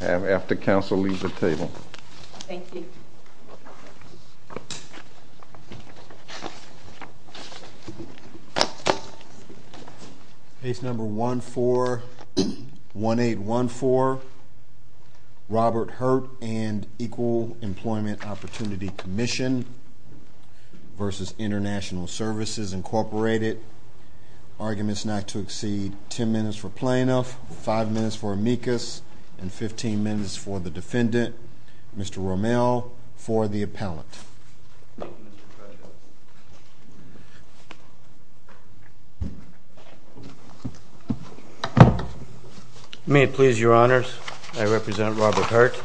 And after council leave the table. Thank you. Case number 141814, Robert Hurt and Equal Employment Opportunity Commission v. International Services, Incorporated. Arguments not to exceed 10 minutes for 10 minutes for the defendant, Mr. Rommel for the appellant. May it please your honors, I represent Robert Hurt.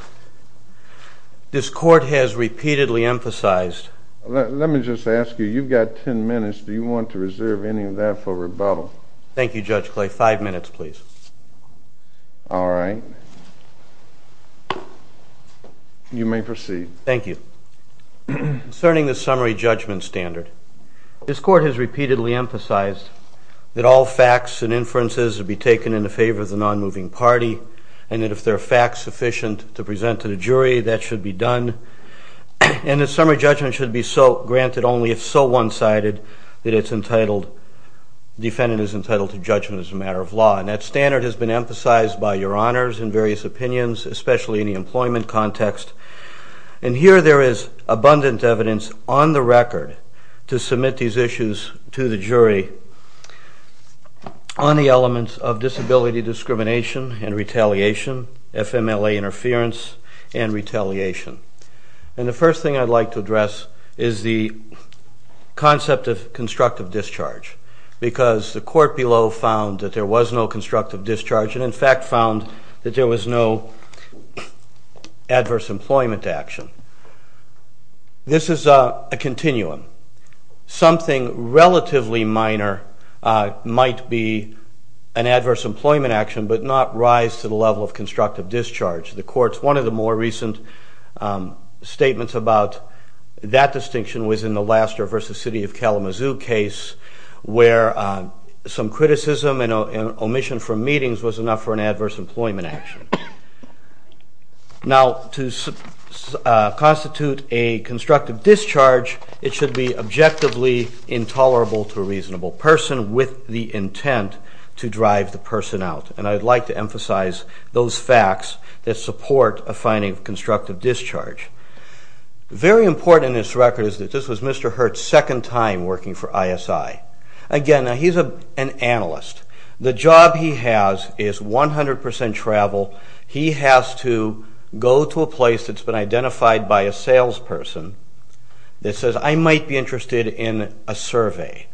This court has repeatedly emphasized. Let me just ask you, you've got 10 minutes. Do you want to reserve any of that for rebuttal? Thank you, Judge Clay. Five minutes, please. All right. You may proceed. Thank you. Concerning the summary judgment standard, this court has repeatedly emphasized that all facts and inferences would be taken in the favor of the non-moving party, and that if there are facts sufficient to present to the jury, that should be done. And the summary judgment should be so granted only if so one sided that it's entitled, defendant is entitled to judgment as a matter of law. And that standard has been emphasized by your honors in various opinions, especially in the employment context. And here there is abundant evidence on the record to submit these issues to the jury on the elements of disability discrimination and retaliation, FMLA interference and retaliation. And the first thing I'd like to address is the concept of constructive discharge, because the court below found that there was no constructive discharge, and in fact found that there was no adverse employment action. This is a continuum. Something relatively minor might be an adverse employment action, but not rise to the level of constructive discharge. The court's... One of the more recent statements about that distinction was in the Laster versus City of Kalamazoo case, where some criticism and omission from meetings was enough for an adverse employment action. Now, to constitute a constructive discharge, it should be objectively intolerable to a reasonable person with the intent to drive the person out. And I'd like to emphasize those facts that support a finding of constructive discharge. Very important in this record is that this was Mr. Hurt's second time working for ISI. Again, he's an analyst. The job he has is 100% travel. He has to go to a place that's been identified by a salesperson that says, I might be interested in a survey.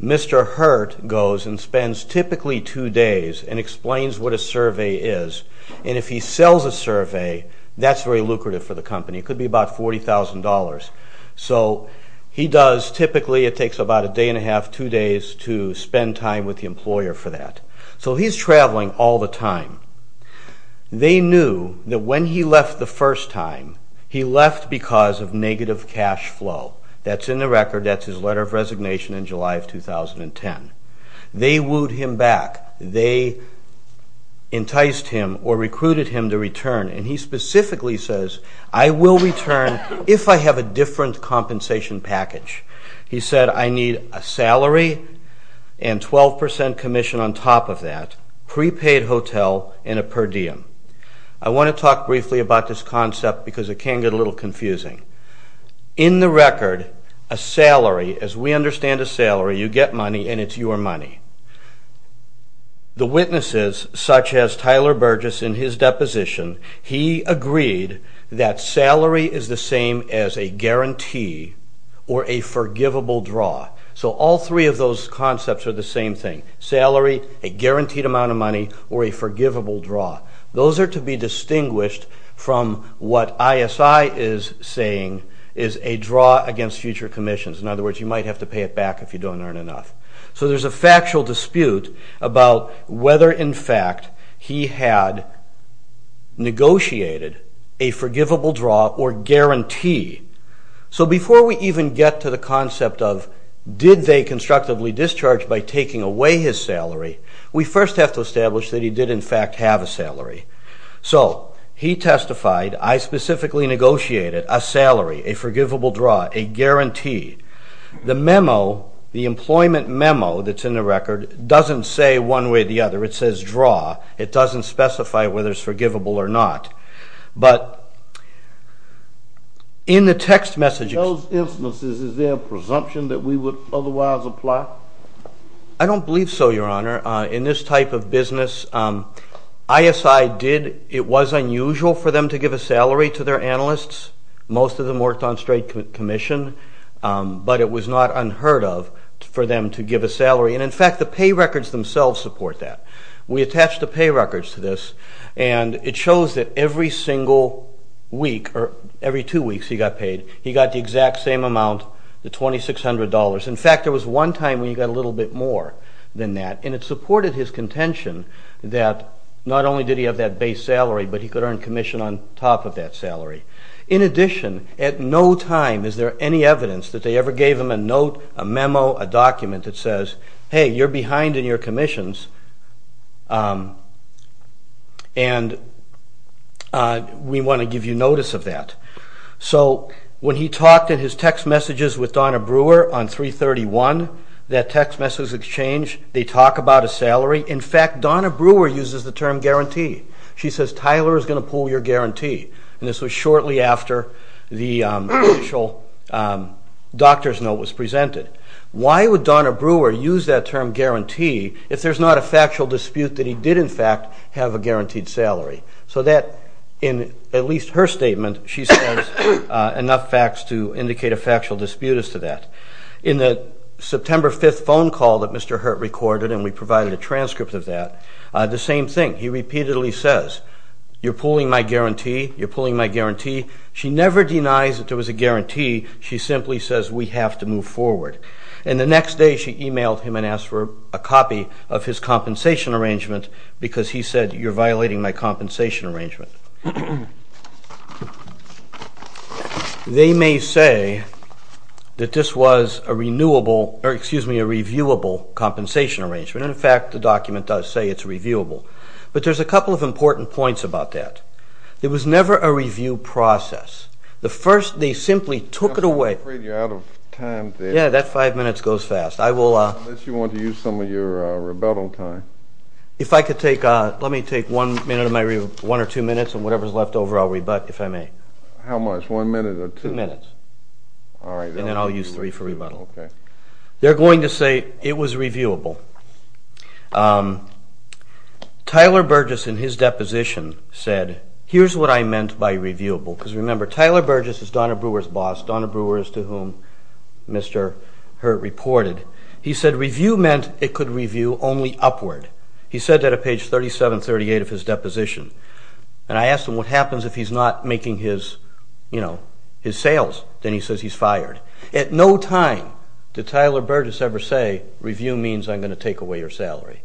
Mr. Hurt goes and spends typically two days and explains what a survey is. And if he sells a survey, that's very lucrative for the company. It could be about $40,000. So he does... Typically, it takes about a day and a half, two days to spend time with the employer for that. So he's traveling all the time. They knew that when he left the first time, he left because of negative cash flow. That's in the record. That's his letter of resignation in July of 2010. They wooed him back. They enticed him or recruited him to return. And he specifically says, I will return if I have a different compensation package. He said, I need a salary and 12% commission on top of that, prepaid hotel and a per diem. I wanna talk briefly about this concept because it can get a little confusing. In the record, a salary, as we understand a salary, you get money and it's your money. The witnesses, such as Tyler Burgess in his deposition, he agreed that salary is the same as a guarantee or a forgivable draw. So all three of those concepts are the same thing. Salary, a guaranteed amount of money or a forgivable draw. Those are to be distinguished from what ISI is saying is a draw against future commissions. In other words, you might have to pay it back if you don't earn enough. So there's a factual dispute about whether, in fact, he had negotiated a forgivable draw or guarantee. So before we even get to the concept of, did they constructively discharge by taking away his salary, we first have to establish that he did, in fact, have a salary. So he testified, I specifically negotiated a salary, a forgivable draw, a guarantee. The memo, the employment memo that's in the record doesn't say one way or the other, it says draw. It doesn't specify whether it's forgivable or not. But in the text messages... In those instances, is there a presumption that we would otherwise apply? I don't believe so, Your Honor. In this type of business, ISI did. It was unusual for them to give a salary to their analysts. Most of them worked on straight commission, and in fact, the pay records themselves support that. We attach the pay records to this, and it shows that every single week, or every two weeks he got paid, he got the exact same amount, the $2,600. In fact, there was one time when he got a little bit more than that, and it supported his contention that not only did he have that base salary, but he could earn commission on top of that salary. In addition, at no time is there any evidence that they ever gave him a salary. Hey, you're behind in your commissions, and we wanna give you notice of that. So when he talked in his text messages with Donna Brewer on 331, that text message exchange, they talk about a salary. In fact, Donna Brewer uses the term guarantee. She says, Tyler is gonna pull your guarantee. And this was shortly after the official doctor's note was presented. Why would Donna Brewer use that term guarantee if there's not a factual dispute that he did, in fact, have a guaranteed salary? So that, in at least her statement, she says enough facts to indicate a factual dispute as to that. In the September 5th phone call that Mr. Hurt recorded, and we provided a transcript of that, the same thing. He repeatedly says, you're pulling my guarantee, you're pulling my guarantee. She never denies that there was a guarantee, she simply says, we have to move forward. And the next day, she emailed him and asked for a copy of his compensation arrangement because he said, you're violating my compensation arrangement. They may say that this was a renewable, or excuse me, a reviewable compensation arrangement. And in fact, the document does say it's reviewable. But there's a couple of important points about that. There was never a review process. The first, they simply took it away. I'm afraid you're out of time there. Yeah, that five minutes goes fast. I will... Unless you want to use some of your rebuttal time. If I could take... Let me take one minute of my review, one or two minutes, and whatever's left over, I'll rebut, if I may. How much? One minute or two? Two minutes. Alright. And then I'll use three for rebuttal. Okay. They're going to say it was reviewable. Tyler Burgess, in his deposition, said, here's what I meant by reviewable. Because remember, Tyler Burgess is Donna Brewer's boss, Donna Brewer is to whom Mr. Hurt reported. He said, review meant it could review only upward. He said that at page 3738 of his deposition. And I asked him, what happens if he's not making his sales? Then he says, he's fired. At no time did Tyler Burgess ever say, review means I'm going to take away your salary.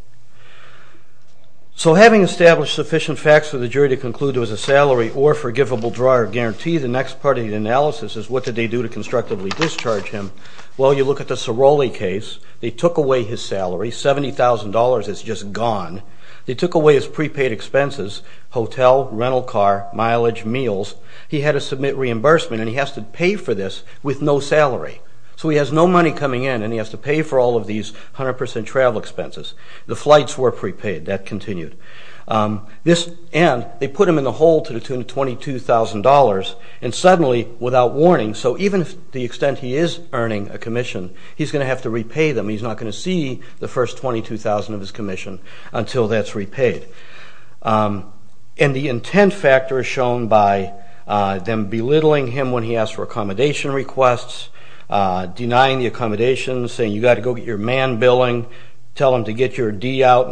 So having established sufficient facts for the jury to conclude it was a guarantee, the next part of the analysis is, what did they do to constructively discharge him? Well, you look at the Ciroli case, they took away his salary, $70,000 is just gone. They took away his prepaid expenses, hotel, rental car, mileage, meals. He had to submit reimbursement and he has to pay for this with no salary. So he has no money coming in and he has to pay for all of these 100% travel expenses. The flights were prepaid, that continued. This, and they put him in the hole to the tune of $22,000 and suddenly, without warning, so even to the extent he is earning a commission, he's going to have to repay them. He's not going to see the first $22,000 of his commission until that's repaid. And the intent factor is shown by them belittling him when he asked for accommodation requests, denying the accommodations, saying, you got to go get your man billing, tell him to get your D out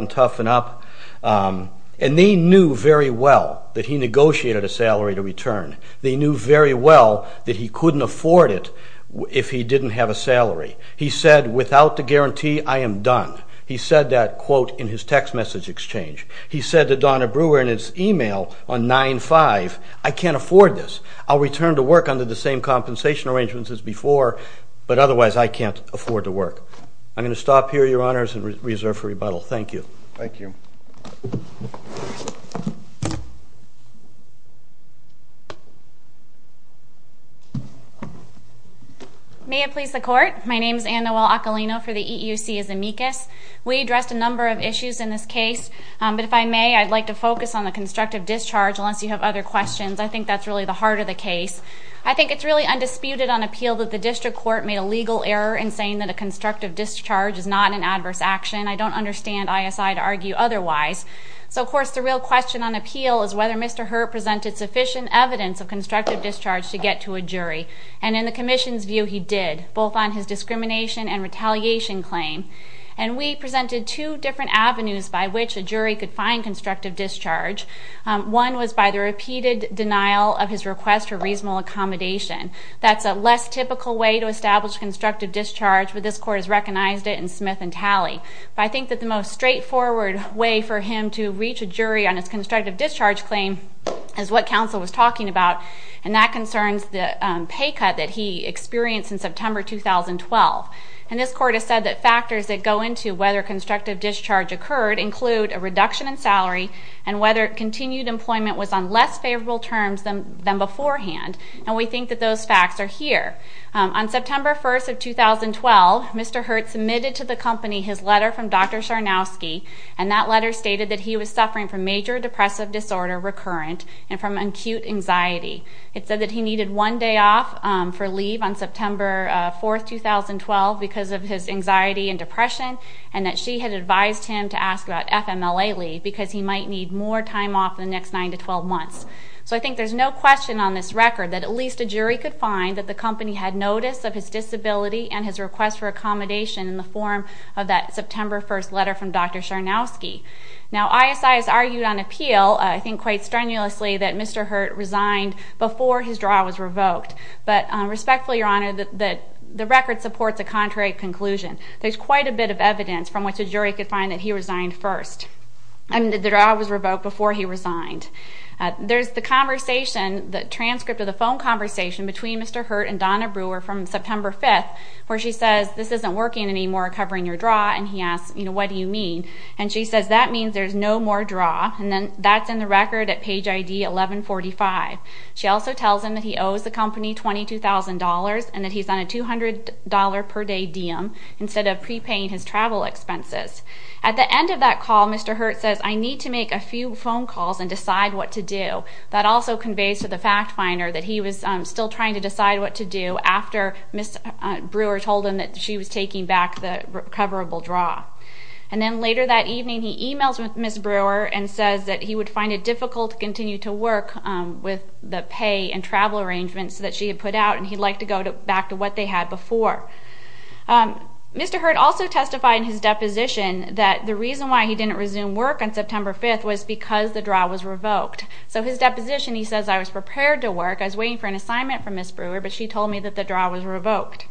and they knew very well that he negotiated a salary to return. They knew very well that he couldn't afford it if he didn't have a salary. He said, without the guarantee, I am done. He said that quote in his text message exchange. He said to Donna Brewer in his email on 9 5, I can't afford this. I'll return to work under the same compensation arrangements as before, but otherwise, I can't afford to work. I'm gonna stop here, Your Honors, and reserve for rebuttal. Thank you. Thank you. May it please the court. My name is Anne Noel Acalino for the EEOC as amicus. We addressed a number of issues in this case, but if I may, I'd like to focus on the constructive discharge, unless you have other questions. I think that's really the heart of the case. I think it's really undisputed on appeal that the district court made a legal error in saying that a constructive discharge is not an adverse action. I don't understand ISI to argue otherwise. So, of course, the real question on appeal is whether Mr. Hurt presented sufficient evidence of constructive discharge to get to a jury. And in the commission's view, he did, both on his discrimination and retaliation claim. And we presented two different avenues by which a jury could find constructive discharge. One was by the repeated denial of his request for reasonable accommodation. That's a less typical way to establish constructive discharge, but this court has recognized it in Smith and reached a jury on his constructive discharge claim as what counsel was talking about, and that concerns the pay cut that he experienced in September 2012. And this court has said that factors that go into whether constructive discharge occurred include a reduction in salary and whether continued employment was on less favorable terms than beforehand. And we think that those facts are here. On September 1st of 2012, Mr. Hurt submitted to the company his letter from Dr. Sarnowski, and that letter stated that he was suffering from major depressive disorder recurrent and from acute anxiety. It said that he needed one day off for leave on September 4th, 2012, because of his anxiety and depression, and that she had advised him to ask about FMLA leave because he might need more time off in the next 9 to 12 months. So I think there's no question on this record that at least a jury could find that the company had notice of his disability and his request for accommodation in the form of that September 1st letter from Dr. Sarnowski. Now, ISI has argued on appeal, I think quite strenuously, that Mr. Hurt resigned before his draw was revoked. But respectfully, Your Honor, the record supports a contrary conclusion. There's quite a bit of evidence from which a jury could find that he resigned first, and that the draw was revoked before he resigned. There's the conversation, the transcript of the phone conversation between Mr. Hurt and Dr. Sarnowski on September 5th, where she says, this isn't working anymore covering your draw, and he asks, what do you mean? And she says, that means there's no more draw, and that's in the record at page ID 1145. She also tells him that he owes the company $22,000, and that he's on a $200 per day diem instead of prepaying his travel expenses. At the end of that call, Mr. Hurt says, I need to make a few phone calls and decide what to do. That also conveys to the fact finder that he was still trying to work. Brewer told him that she was taking back the coverable draw. And then later that evening, he emails with Ms. Brewer and says that he would find it difficult to continue to work with the pay and travel arrangements that she had put out, and he'd like to go back to what they had before. Mr. Hurt also testified in his deposition that the reason why he didn't resume work on September 5th was because the draw was revoked. So his deposition, he says, I was prepared to work. I was waiting for an assignment from Ms. Brewer, but she told me that the draw was revoked.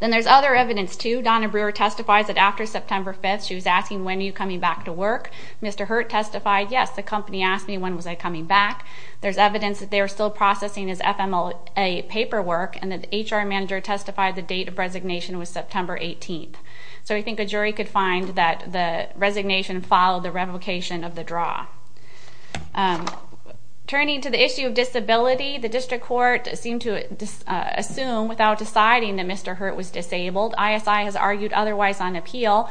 Then there's other evidence too. Donna Brewer testifies that after September 5th, she was asking, when are you coming back to work? Mr. Hurt testified, yes, the company asked me when was I coming back. There's evidence that they were still processing his FMLA paperwork, and that the HR manager testified the date of resignation was September 18th. So we think a jury could find that the resignation followed the revocation of the draw. Turning to the issue of disability, the district court seemed to assume without deciding that Mr. Hurt was disabled, ISI has argued otherwise on appeal.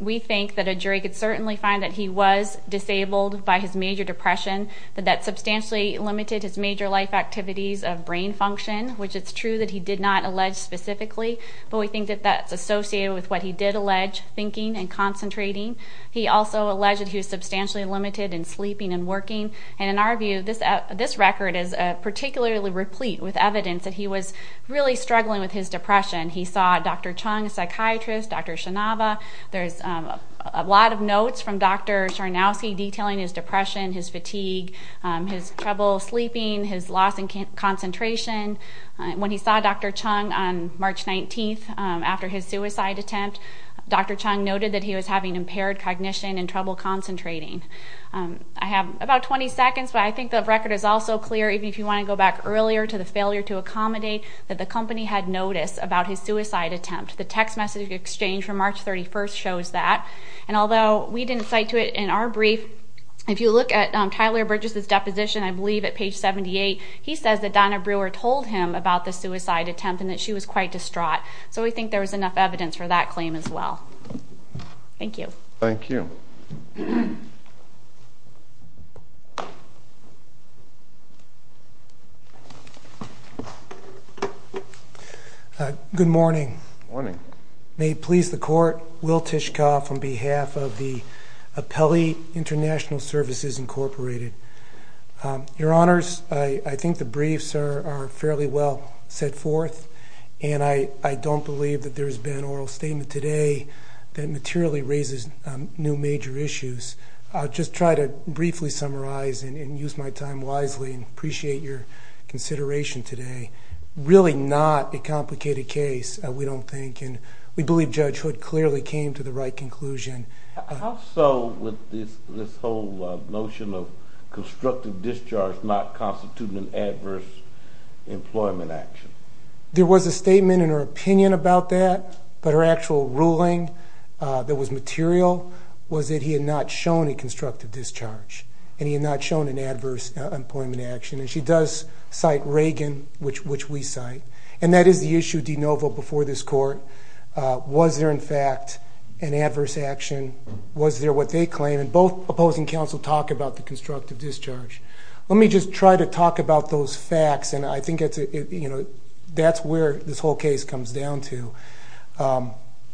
We think that a jury could certainly find that he was disabled by his major depression, that that substantially limited his major life activities of brain function, which it's true that he did not allege specifically, but we think that that's associated with what he did allege, thinking and concentrating. He also alleged that he was substantially limited in sleeping and working. And in our view, this record is particularly replete with evidence that he was really struggling with his depression. He saw Dr. Chung, a psychiatrist, Dr. Shinava. There's a lot of notes from Dr. Czarnowski detailing his depression, his fatigue, his trouble sleeping, his loss in concentration. When he saw Dr. Chung on March 19th after his suicide attempt, Dr. Chung noted that he was having impaired cognition and I have about 20 seconds, but I think the record is also clear, even if you wanna go back earlier to the failure to accommodate that the company had noticed about his suicide attempt. The text message exchange from March 31st shows that. And although we didn't cite to it in our brief, if you look at Tyler Bridges' deposition, I believe at page 78, he says that Donna Brewer told him about the suicide attempt and that she was quite distraught. So we think there was enough evidence for that claim as well. Thank you. Thank you. Good morning. Good morning. May it please the court, Will Tishkoff on behalf of the Appellee International Services Incorporated. Your honors, I think the briefs are fairly well set forth and I don't believe that there's been oral statement today that materially raises new major issues. I'll just try to briefly summarize and use my time wisely and appreciate your consideration today. Really not a complicated case, we don't think, and we believe Judge Hood clearly came to the right conclusion. Also, with this whole notion of constructive discharge not constituting an adverse employment action. There was a statement in her opinion about that, but her actual ruling that was material was that he had not shown a constructive discharge and he had not shown an adverse employment action. And she does cite Reagan, which we cite. And that is the issue, de novo, before this court. Was there, in fact, an adverse action? Was there what they claim? And both opposing counsel talk about the constructive discharge. Let me just try to talk about those facts, and I think that's where this whole case comes down to.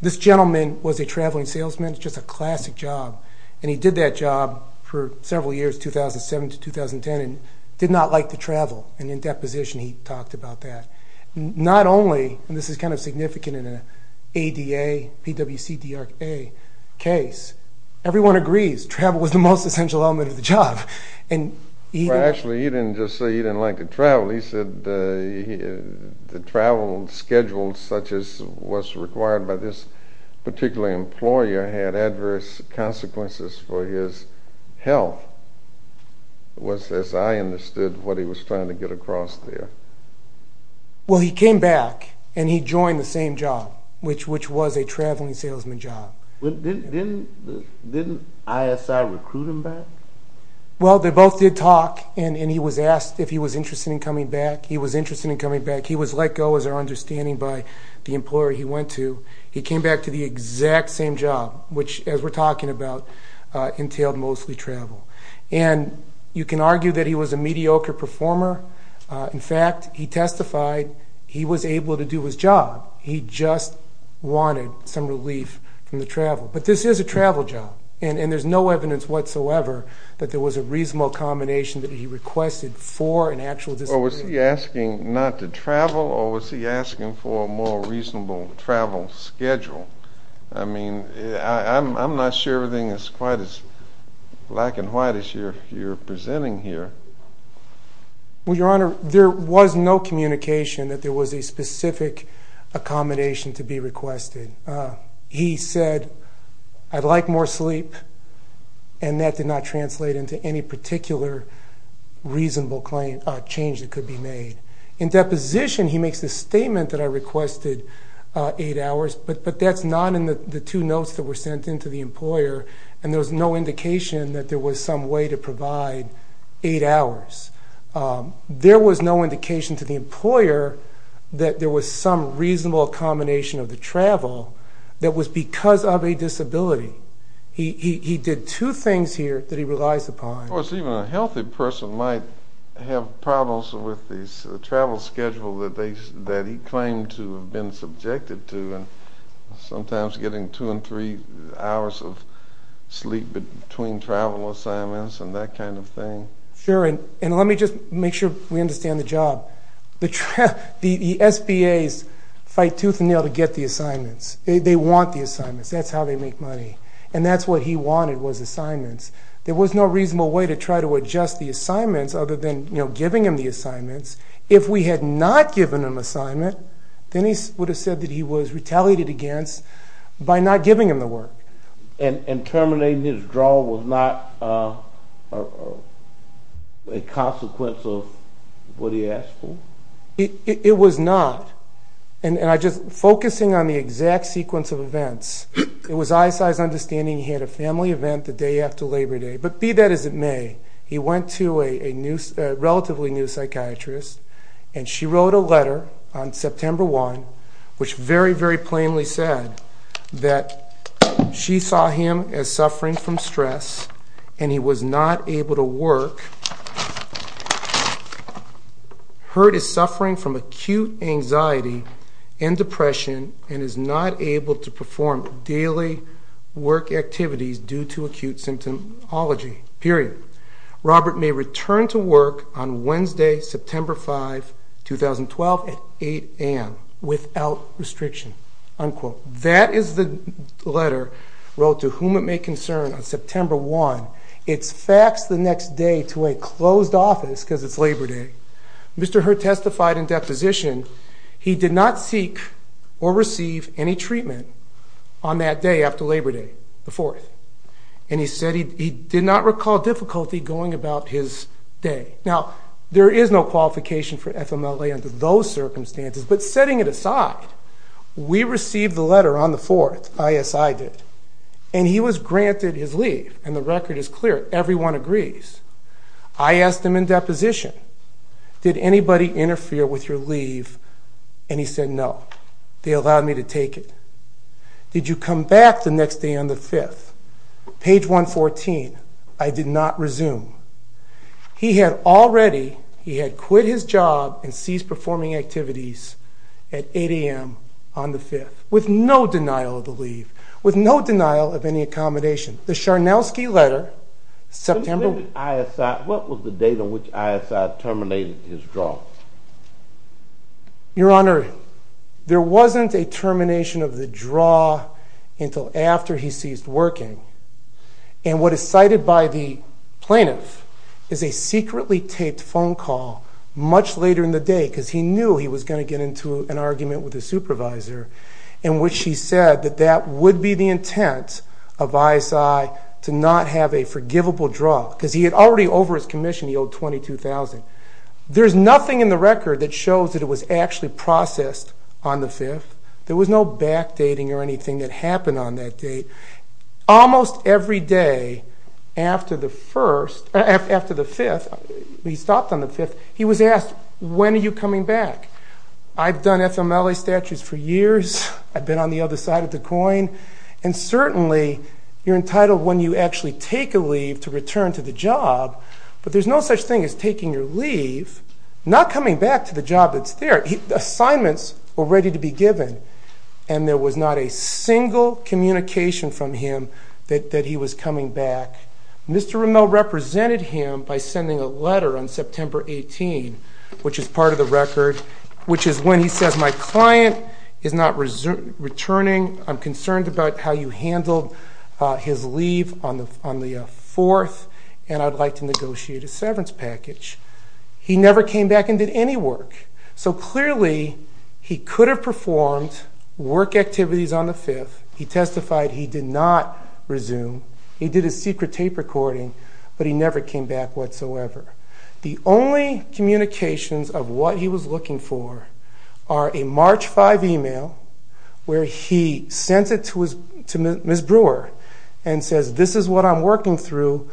This gentleman was a traveling salesman, just a classic job, and he did that job for several years, 2007 to 2010, and did not like to travel. And in deposition, he talked about that. Not only, and this is kind of significant in an ADA, PWC, DRA case, everyone agrees, travel was the most essential element of the job. And he... Well, actually, he didn't just say he didn't like to travel. He said that the travel schedule, such as was required by this particular employer, had adverse consequences for his health, was, as I understood, what he was trying to get across there. Well, he came back and he joined the same job, which was a traveling salesman job. Didn't ISI recruit him back? Well, they both did He was interested in coming back. He was let go, as our understanding, by the employer he went to. He came back to the exact same job, which, as we're talking about, entailed mostly travel. And you can argue that he was a mediocre performer. In fact, he testified he was able to do his job. He just wanted some relief from the travel. But this is a travel job, and there's no evidence whatsoever that there was. Was he asking not to travel, or was he asking for a more reasonable travel schedule? I'm not sure everything is quite as black and white as you're presenting here. Well, Your Honor, there was no communication that there was a specific accommodation to be requested. He said, I'd like more sleep, and that did not translate into any particular reasonable change that could be made. In deposition, he makes a statement that I requested eight hours, but that's not in the two notes that were sent in to the employer, and there was no indication that there was some way to provide eight hours. There was no indication to the employer that there was some reasonable accommodation of the travel that was because of a disability. He did two things here that he relies upon. Well, it's even a healthy person might have problems with the travel schedule that he claimed to have been subjected to, and sometimes getting two and three hours of sleep between travel assignments and that kind of thing. Sure, and let me just make sure we understand the job. The SBAs fight tooth and nail to get the assignments. They want the assignments, that's how they make money, and that's what he wanted was the assignments other than giving him the assignments. If we had not given him assignment, then he would have said that he was retaliated against by not giving him the work. And terminating his draw was not a consequence of what he asked for? It was not, and I just... Focusing on the exact sequence of events, it was ISI's understanding he had a family event the day after Labor Day, but be that as it may, he went to a relatively new psychiatrist, and she wrote a letter on September 1, which very, very plainly said that she saw him as suffering from stress, and he was not able to work. Heard as suffering from acute anxiety and depression, and is not able to perform daily work activities due to acute symptomology, period. Robert may return to work on Wednesday, September 5, 2012 at 8 AM without restriction, unquote. That is the letter wrote to whom it may concern on September 1. It's faxed the next day to a closed office because it's Labor Day. Mr. Heard testified in deposition, he did not seek or receive any treatment on that day after Labor Day, the 4th. And he said he did not recall difficulty going about his day. Now, there is no qualification for FMLA under those circumstances, but setting it aside, we received the letter on the 4th, ISI did, and he was granted his leave, and the record is clear, everyone agrees. I asked him in deposition, did anybody interfere with your leave? And he said, no, they allowed me to take it. Did you come back the next day on the 5th? Page 114, I did not resume. He had already, he had quit his job and ceased performing activities at 8 AM on the 5th, with no denial of the leave, with no denial of any accommodation. The Charnowski letter, September... When you say ISI, what was the date on which ISI terminated his draw? Your Honor, there wasn't a termination of the draw until after he ceased working. And what is cited by the plaintiff is a secretly taped phone call much later in the day, because he knew he was gonna get into an argument with his supervisor, in which he said that that would be the intent of ISI to not have a forgivable draw, because he had already over his commission, he owed $22,000. There's nothing in the record that shows that it was actually processed on the 5th. There was no back dating or anything that happened on that date. Almost every day after the 1st... After the 5th, he stopped on the 5th, he was asked, when are you coming back? I've done FMLA statutes for years, I've been on the other side of the coin, and certainly you're entitled when you actually take a leave to return to the job, but there's no such thing as taking your leave, not coming back to the job that's there. Assignments were ready to be given, and there was not a single communication from him that he was coming back. Mr. Rimmel represented him by sending a letter on September 18, which is part of the record, which is when he says, my client is not returning, I'm concerned about how you handled his leave on the 4th, and I'd like to negotiate a severance package. He never came back and did any work. So clearly, he could have performed work activities on the 5th, he testified he did not resume, he did a secret tape recording, but he never came back whatsoever. The only communications of what he was looking for are a March 5 email, where he sent it to Ms. Brewer and says, this is what I'm working through,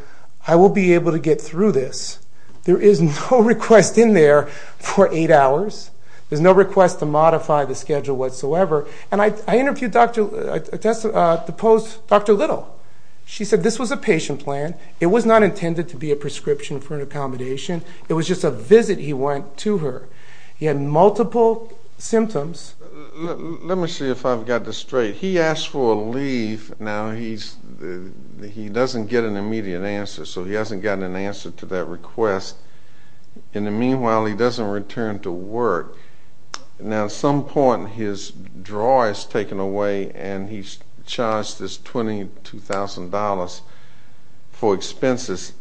I will be able to get through this. There is no request in there for eight hours, there's no request to modify the schedule whatsoever. And I interviewed the post, Dr. Little. She said, this was a patient plan, it was not intended to be a prescription for an accommodation, it was just a visit he went to her. He had multiple symptoms. Let me see if I've got this straight. He asked for a leave, now he doesn't get an immediate answer, so he hasn't gotten an answer to that request. In the meanwhile, he doesn't return to work. Now, at some point, his drawer is taken away and he's charged this $1,200 for expenses.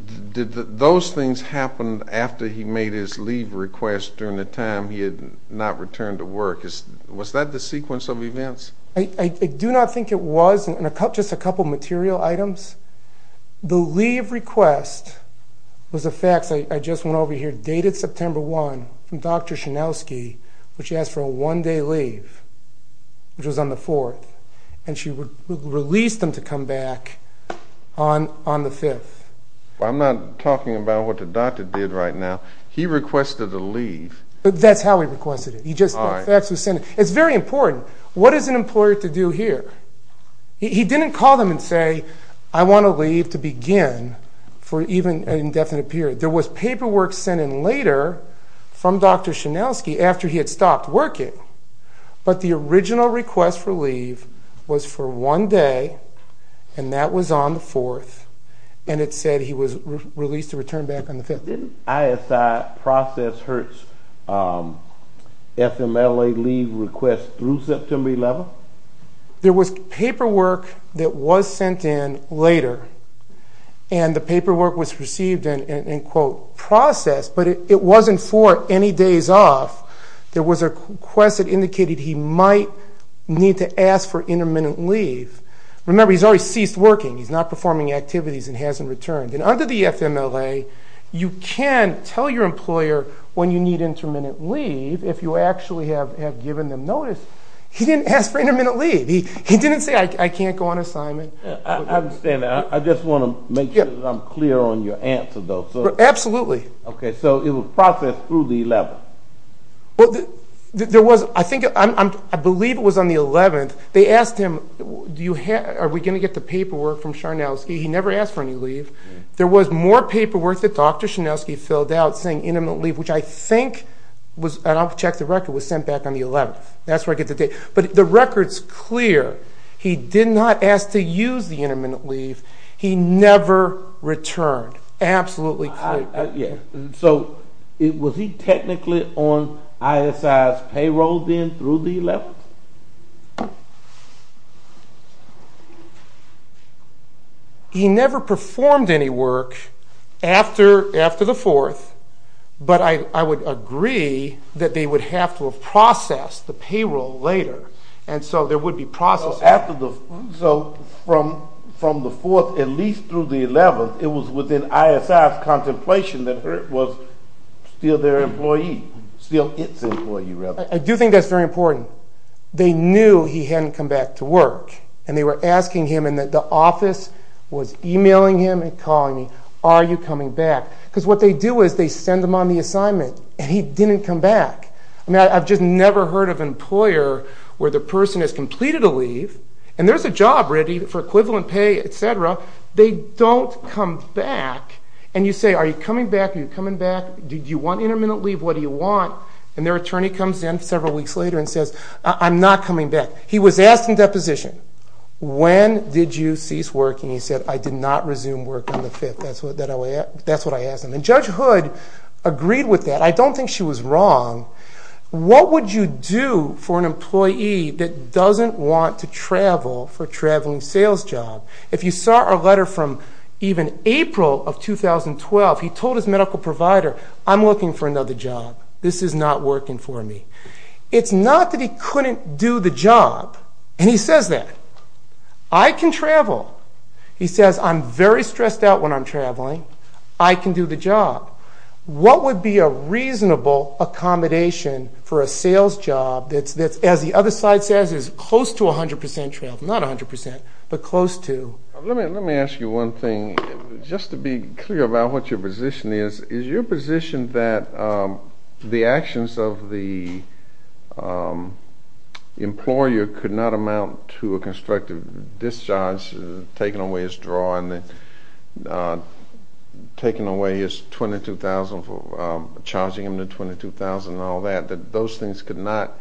Those things happened after he made his leave request during the time he had not returned to work. Was that the sequence of events? I do not think it was, just a couple of material items. The leave request was a fax, I just went over here, dated September 1, from Dr. Chanelski, where she asked for a one day leave, which was on the 4th, and she would release them to come back on the 5th. I'm not talking about what the doctor did right now. He requested a leave. That's how he requested it, he just got a fax and sent it. It's very important, what is an employer to do here? He didn't call them and say, I wanna leave to begin for even an indefinite period. There was paperwork sent in later from Dr. Chanelski after he had stopped working, but the original request for leave was for one day, and that was on the 4th, and it said he was released to return back on the 5th. Didn't ISI process Hurt's FMLA leave request through September 11th? There was paperwork that was sent in later, and the paperwork was received in process, but it wasn't for any days off. There was a request that indicated he might need to ask for intermittent leave. Remember, he's already ceased working, he's not performing activities and hasn't returned. And under the FMLA, you can tell your employer when you need intermittent leave if you actually have given them notice. He didn't ask for intermittent leave. He didn't say, I can't go on assignment. I understand that. I just wanna make sure that I'm clear on your answer, though. Absolutely. Okay, so it was processed through the 11th. Well, there was... I think... I believe it was on the 11th. They asked him, are we gonna get the paperwork from Chanelski? He never asked for any leave. There was more paperwork that Dr. Chanelski filled out saying, intermittent leave, which I think was... And I'll check the record, was sent back on the 11th. That's where I get the date. But the record's clear. He did not ask to use the intermittent leave. He never returned. Absolutely clear. Yeah. So, was he technically on ISI's payroll then through the 11th? He never performed any work after the 4th, but I would agree that they would have to have processed the payroll later, and so there would be processing. So, from the 4th, at least through the 11th, it was within ISI's contemplation that Hurt was still their employee, still its employee, rather. I do think that's very important. They knew he hadn't come back to work, and they were asking him, and the office was emailing him and calling me, are you coming back? Because what they do is they send him on the assignment, and he didn't come back. I've just never heard of an employer where the person has completed a leave, and there's a job ready for equivalent pay, etc. They don't come back, and you say, are you coming back? Are you coming back? Do you want intermittent leave? What do you want? And their attorney comes in several weeks later and says, I'm not coming back. He was asked in deposition, when did you cease work? And he said, I did not resume work on the 5th. That's what I asked him. And Judge Hood agreed with that. I don't think she was wrong. What would you do for an employee that doesn't want to travel for a traveling sales job? If you saw our letter from even April of 2012, he told his medical provider, I'm looking for another job. This is not working for me. It's not that he couldn't do the job, and he says that. I can travel. He says, I'm very stressed out when I'm traveling. I can do the job. What would be a reasonable accommodation for a sales job that's, as the other slide says, is close to 100% travel. Not 100%, but close to. Let me ask you one thing. Just to be clear about what your position is, is your position that the actions of the employer could not amount to a constructive discharge, taking away his draw and taking away his 22,000, charging him the 22,000 and all that, that those things could not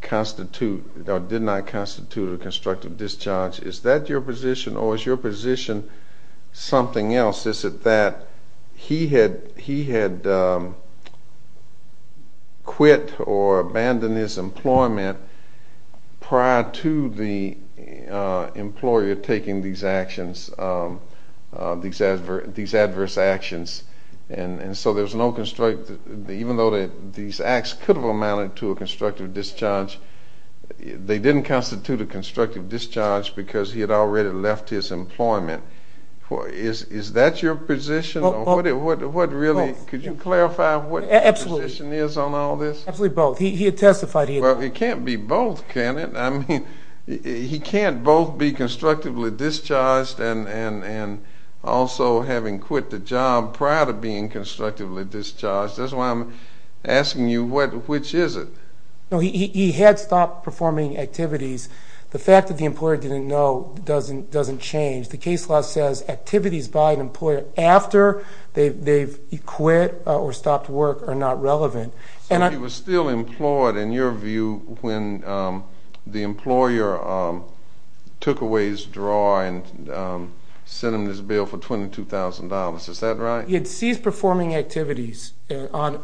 constitute or did not constitute a constructive discharge? Is that your position, or is your position something else? Is it that he had quit or abandoned his employment prior to the employer taking these actions, these adverse actions, and so there's no... Even though these acts could have amounted to a constructive discharge, they didn't constitute a constructive discharge because he had already left his employment. Is that your position, or what really... Could you clarify what your position is on all this? Absolutely both. He had testified he had... Well, it can't be both, can it? He can't both be constructively discharged and also having quit the job prior to being constructively discharged. That's why I'm asking you, which is it? No, he had stopped performing activities. The fact that the employer didn't know doesn't change. The case law says activities by an employer after they've quit or stopped work are not relevant. So he was still employed, in your view, when the employer took away his draw and sent him this bill for $22,000, is that right? He had ceased performing activities on...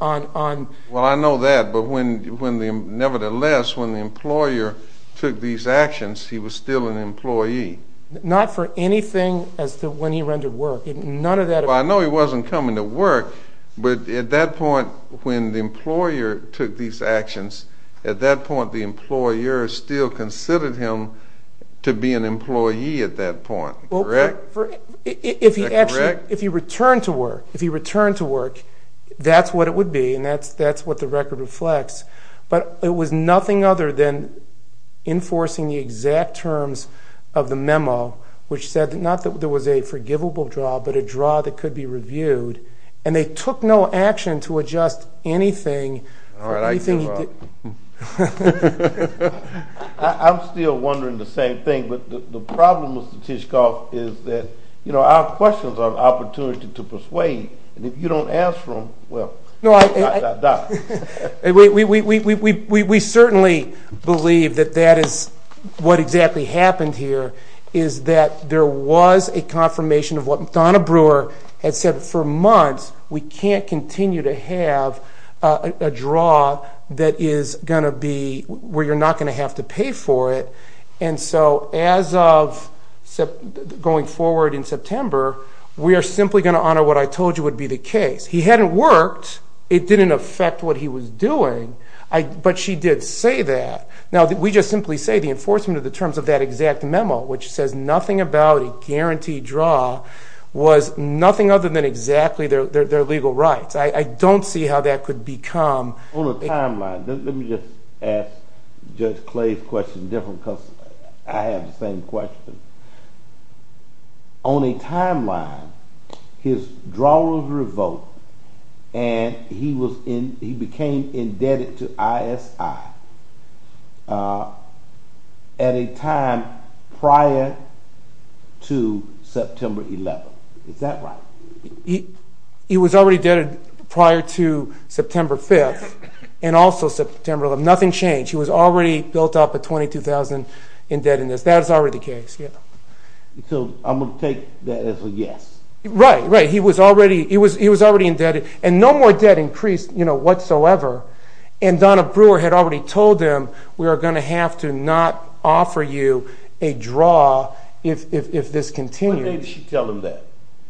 Well, I know that, but when the... Nevertheless, when the employer took these actions, he was still an employee. Not for anything as to when he rendered work. None of that... Well, I know he wasn't coming to work, but at that point, when the employer took these actions, at that point, the employer still considered him to be an employee at that point, correct? Is that correct? If he actually... If he returned to work, if he returned to work, that's what it would be and that's what the record reflects. But it was nothing other than enforcing the exact terms of the memo, which said that not that there was a forgivable draw, but a draw that could be reviewed, and they took no action to adjust anything for anything... Alright, I can draw. I'm still wondering the same thing, but the problem, Mr. Tishkoff, is that our questions are an opportunity to persuade and if you don't ask for them, well, dot, dot, dot. We certainly believe that that is what exactly happened here, is that there was a confirmation of what Donna Brewer had said for months, we can't continue to have a draw that is gonna be where you're not gonna have to pay for it. And so, as of going forward in September, we are simply gonna honor what I told you would be the case. He hadn't worked, it didn't affect what he was doing, but she did say that. Now, we just simply say the enforcement of the terms of that exact memo, which says nothing about a guaranteed draw, was nothing other than exactly their legal rights. I don't see how that could become... On a timeline, let me just ask Judge Clay's question different because I have the same question. On a timeline, his draw was revoked and he was in... He became indebted to ISI at a time prior to September 11th. Is that right? He was already indebted prior to September 5th and also September 11th, nothing changed. He was already built up a 22,000 indebtedness. That is already the case. Yeah. So, I'm gonna take that as a yes. Right, right. He was already indebted and no more debt increased whatsoever. And Donna Brewer had already told him, we are gonna have to not offer you a draw if this continues. What day did she tell him that?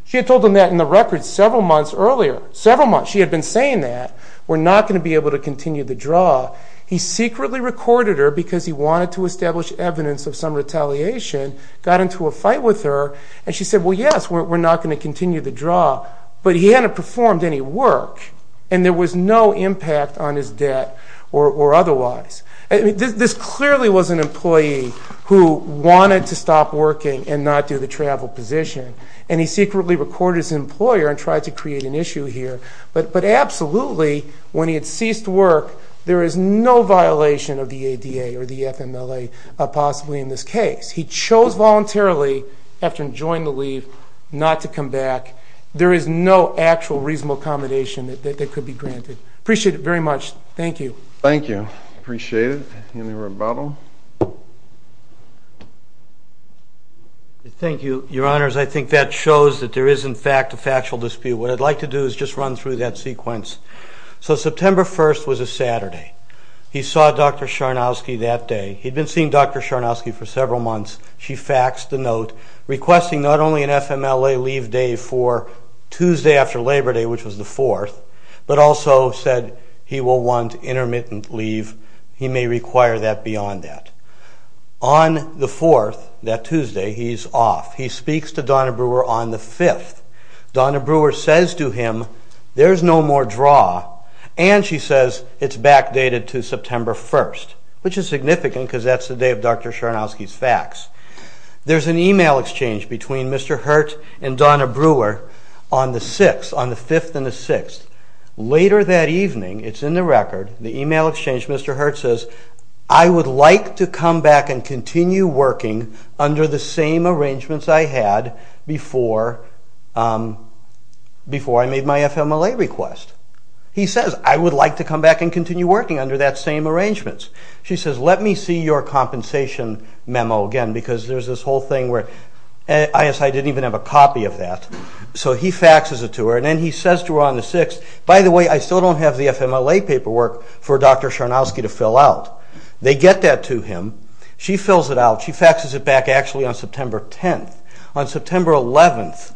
She had told him that in the record several months earlier, several months. She had been saying that we're not gonna be able to continue the draw. He secretly recorded her because he wanted to establish evidence of some retaliation, got into a fight with her and she said, well, yes, we're not gonna continue the draw. But he hadn't performed any work and there was no impact on his debt or otherwise. This clearly was an employee who wanted to stop working and not do the travel position. And he secretly recorded his employer and tried to create an issue here. But absolutely, when he had ceased work, there is no violation of the ADA or the FMLA, possibly in this case. He chose voluntarily, after enjoying the leave, not to come back. There is no actual reasonable accommodation that could be granted. Appreciate it very much. Thank you. Thank you. Appreciate it. Any rebuttal? Thank you, Your Honors. I think that shows that there is, in fact, a factual dispute. What I'd like to do is just run through that sequence. So September 1st was a Saturday. He saw Dr. Sharnowsky that day. He'd been seeing Dr. Sharnowsky for several months. She faxed the note requesting not only an FMLA leave day for Tuesday after Labor Day, which was the 4th, but also said he will want intermittent leave. He may require that beyond that. On the 4th, that Tuesday, he's off. He speaks to Donna Brewer on the 5th. Donna Brewer says to him, there's no more draw. And she says, it's backdated to September 1st, which is significant, because that's the day of Dr. Sharnowsky's fax. There's an email exchange between Mr. Hurt and Donna Brewer on the 6th, on the 5th and the 6th. Later that evening, it's in the record, the email exchange, Mr. Hurt says, I would like to come back and continue working under the same arrangements I had before I made my FMLA request. He says, I would like to come back and continue working under that same arrangements. She says, let me see your compensation memo again, because there's this whole thing where... I didn't even have a copy of that. So he faxes it to her, and then he says to her on the 6th, by the way, I still don't have the FMLA paperwork for Dr. Sharnowsky to fill out. They get that to him. She fills it out. She faxes it back, actually, on September 10th. On September 11th,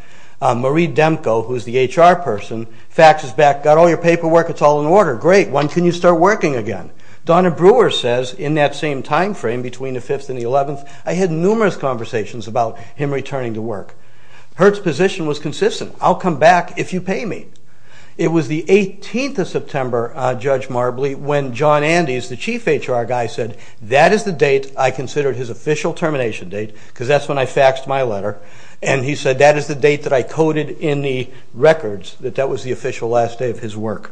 Marie Demko, who's the HR person, faxes back, got all your paperwork, it's all in order. Great, when can you start working again? Donna Brewer says, in that same time frame, between the 5th and the 11th, I had numerous conversations about him returning to work. Hurt's position was consistent, I'll come back if you pay me. It was the 18th of September, Judge Marbley, when John Andes, the chief HR guy, said, that is the date I considered his official termination date, because that's when I faxed my letter. And he said, that is the date that I coded in the records, that that was the official last day of his work.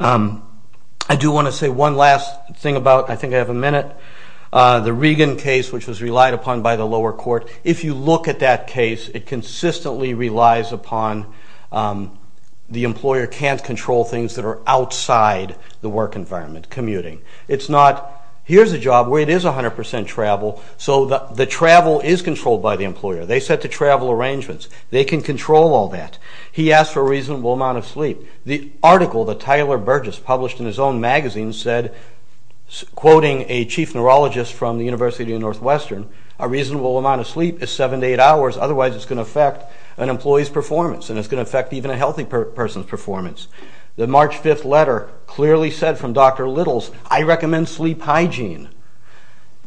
I do wanna say one last thing about, I think I have a minute, the Regan case, which was relied upon by the lower court. If you look at that case, it consistently relies upon the employer can't control things that are outside the work environment, commuting. It's not, here's a job where it is 100% travel, so the travel is controlled by the employer. They set the travel arrangements, they can control all that. He asked for a reasonable amount of sleep. The article that Tyler Burgess published in his own magazine said, quoting a chief neurologist from the University of Northwestern, a reasonable amount of sleep is seven to eight hours, otherwise it's gonna affect an employee's performance, and it's gonna affect even a healthy person's performance. The March 5th letter clearly said from Dr. Littles, I recommend sleep hygiene.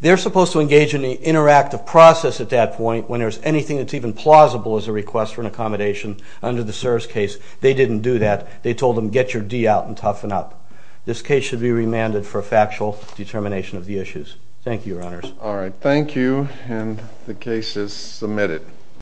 They're supposed to engage in the interactive process at that point when there's anything that's even plausible as a request for an accommodation under the SERS case. They didn't do that. They told them, get your D out and toughen up. This case should be remanded for a factual determination of the issues. Thank you, your honors. Alright, thank you, and the case is submitted.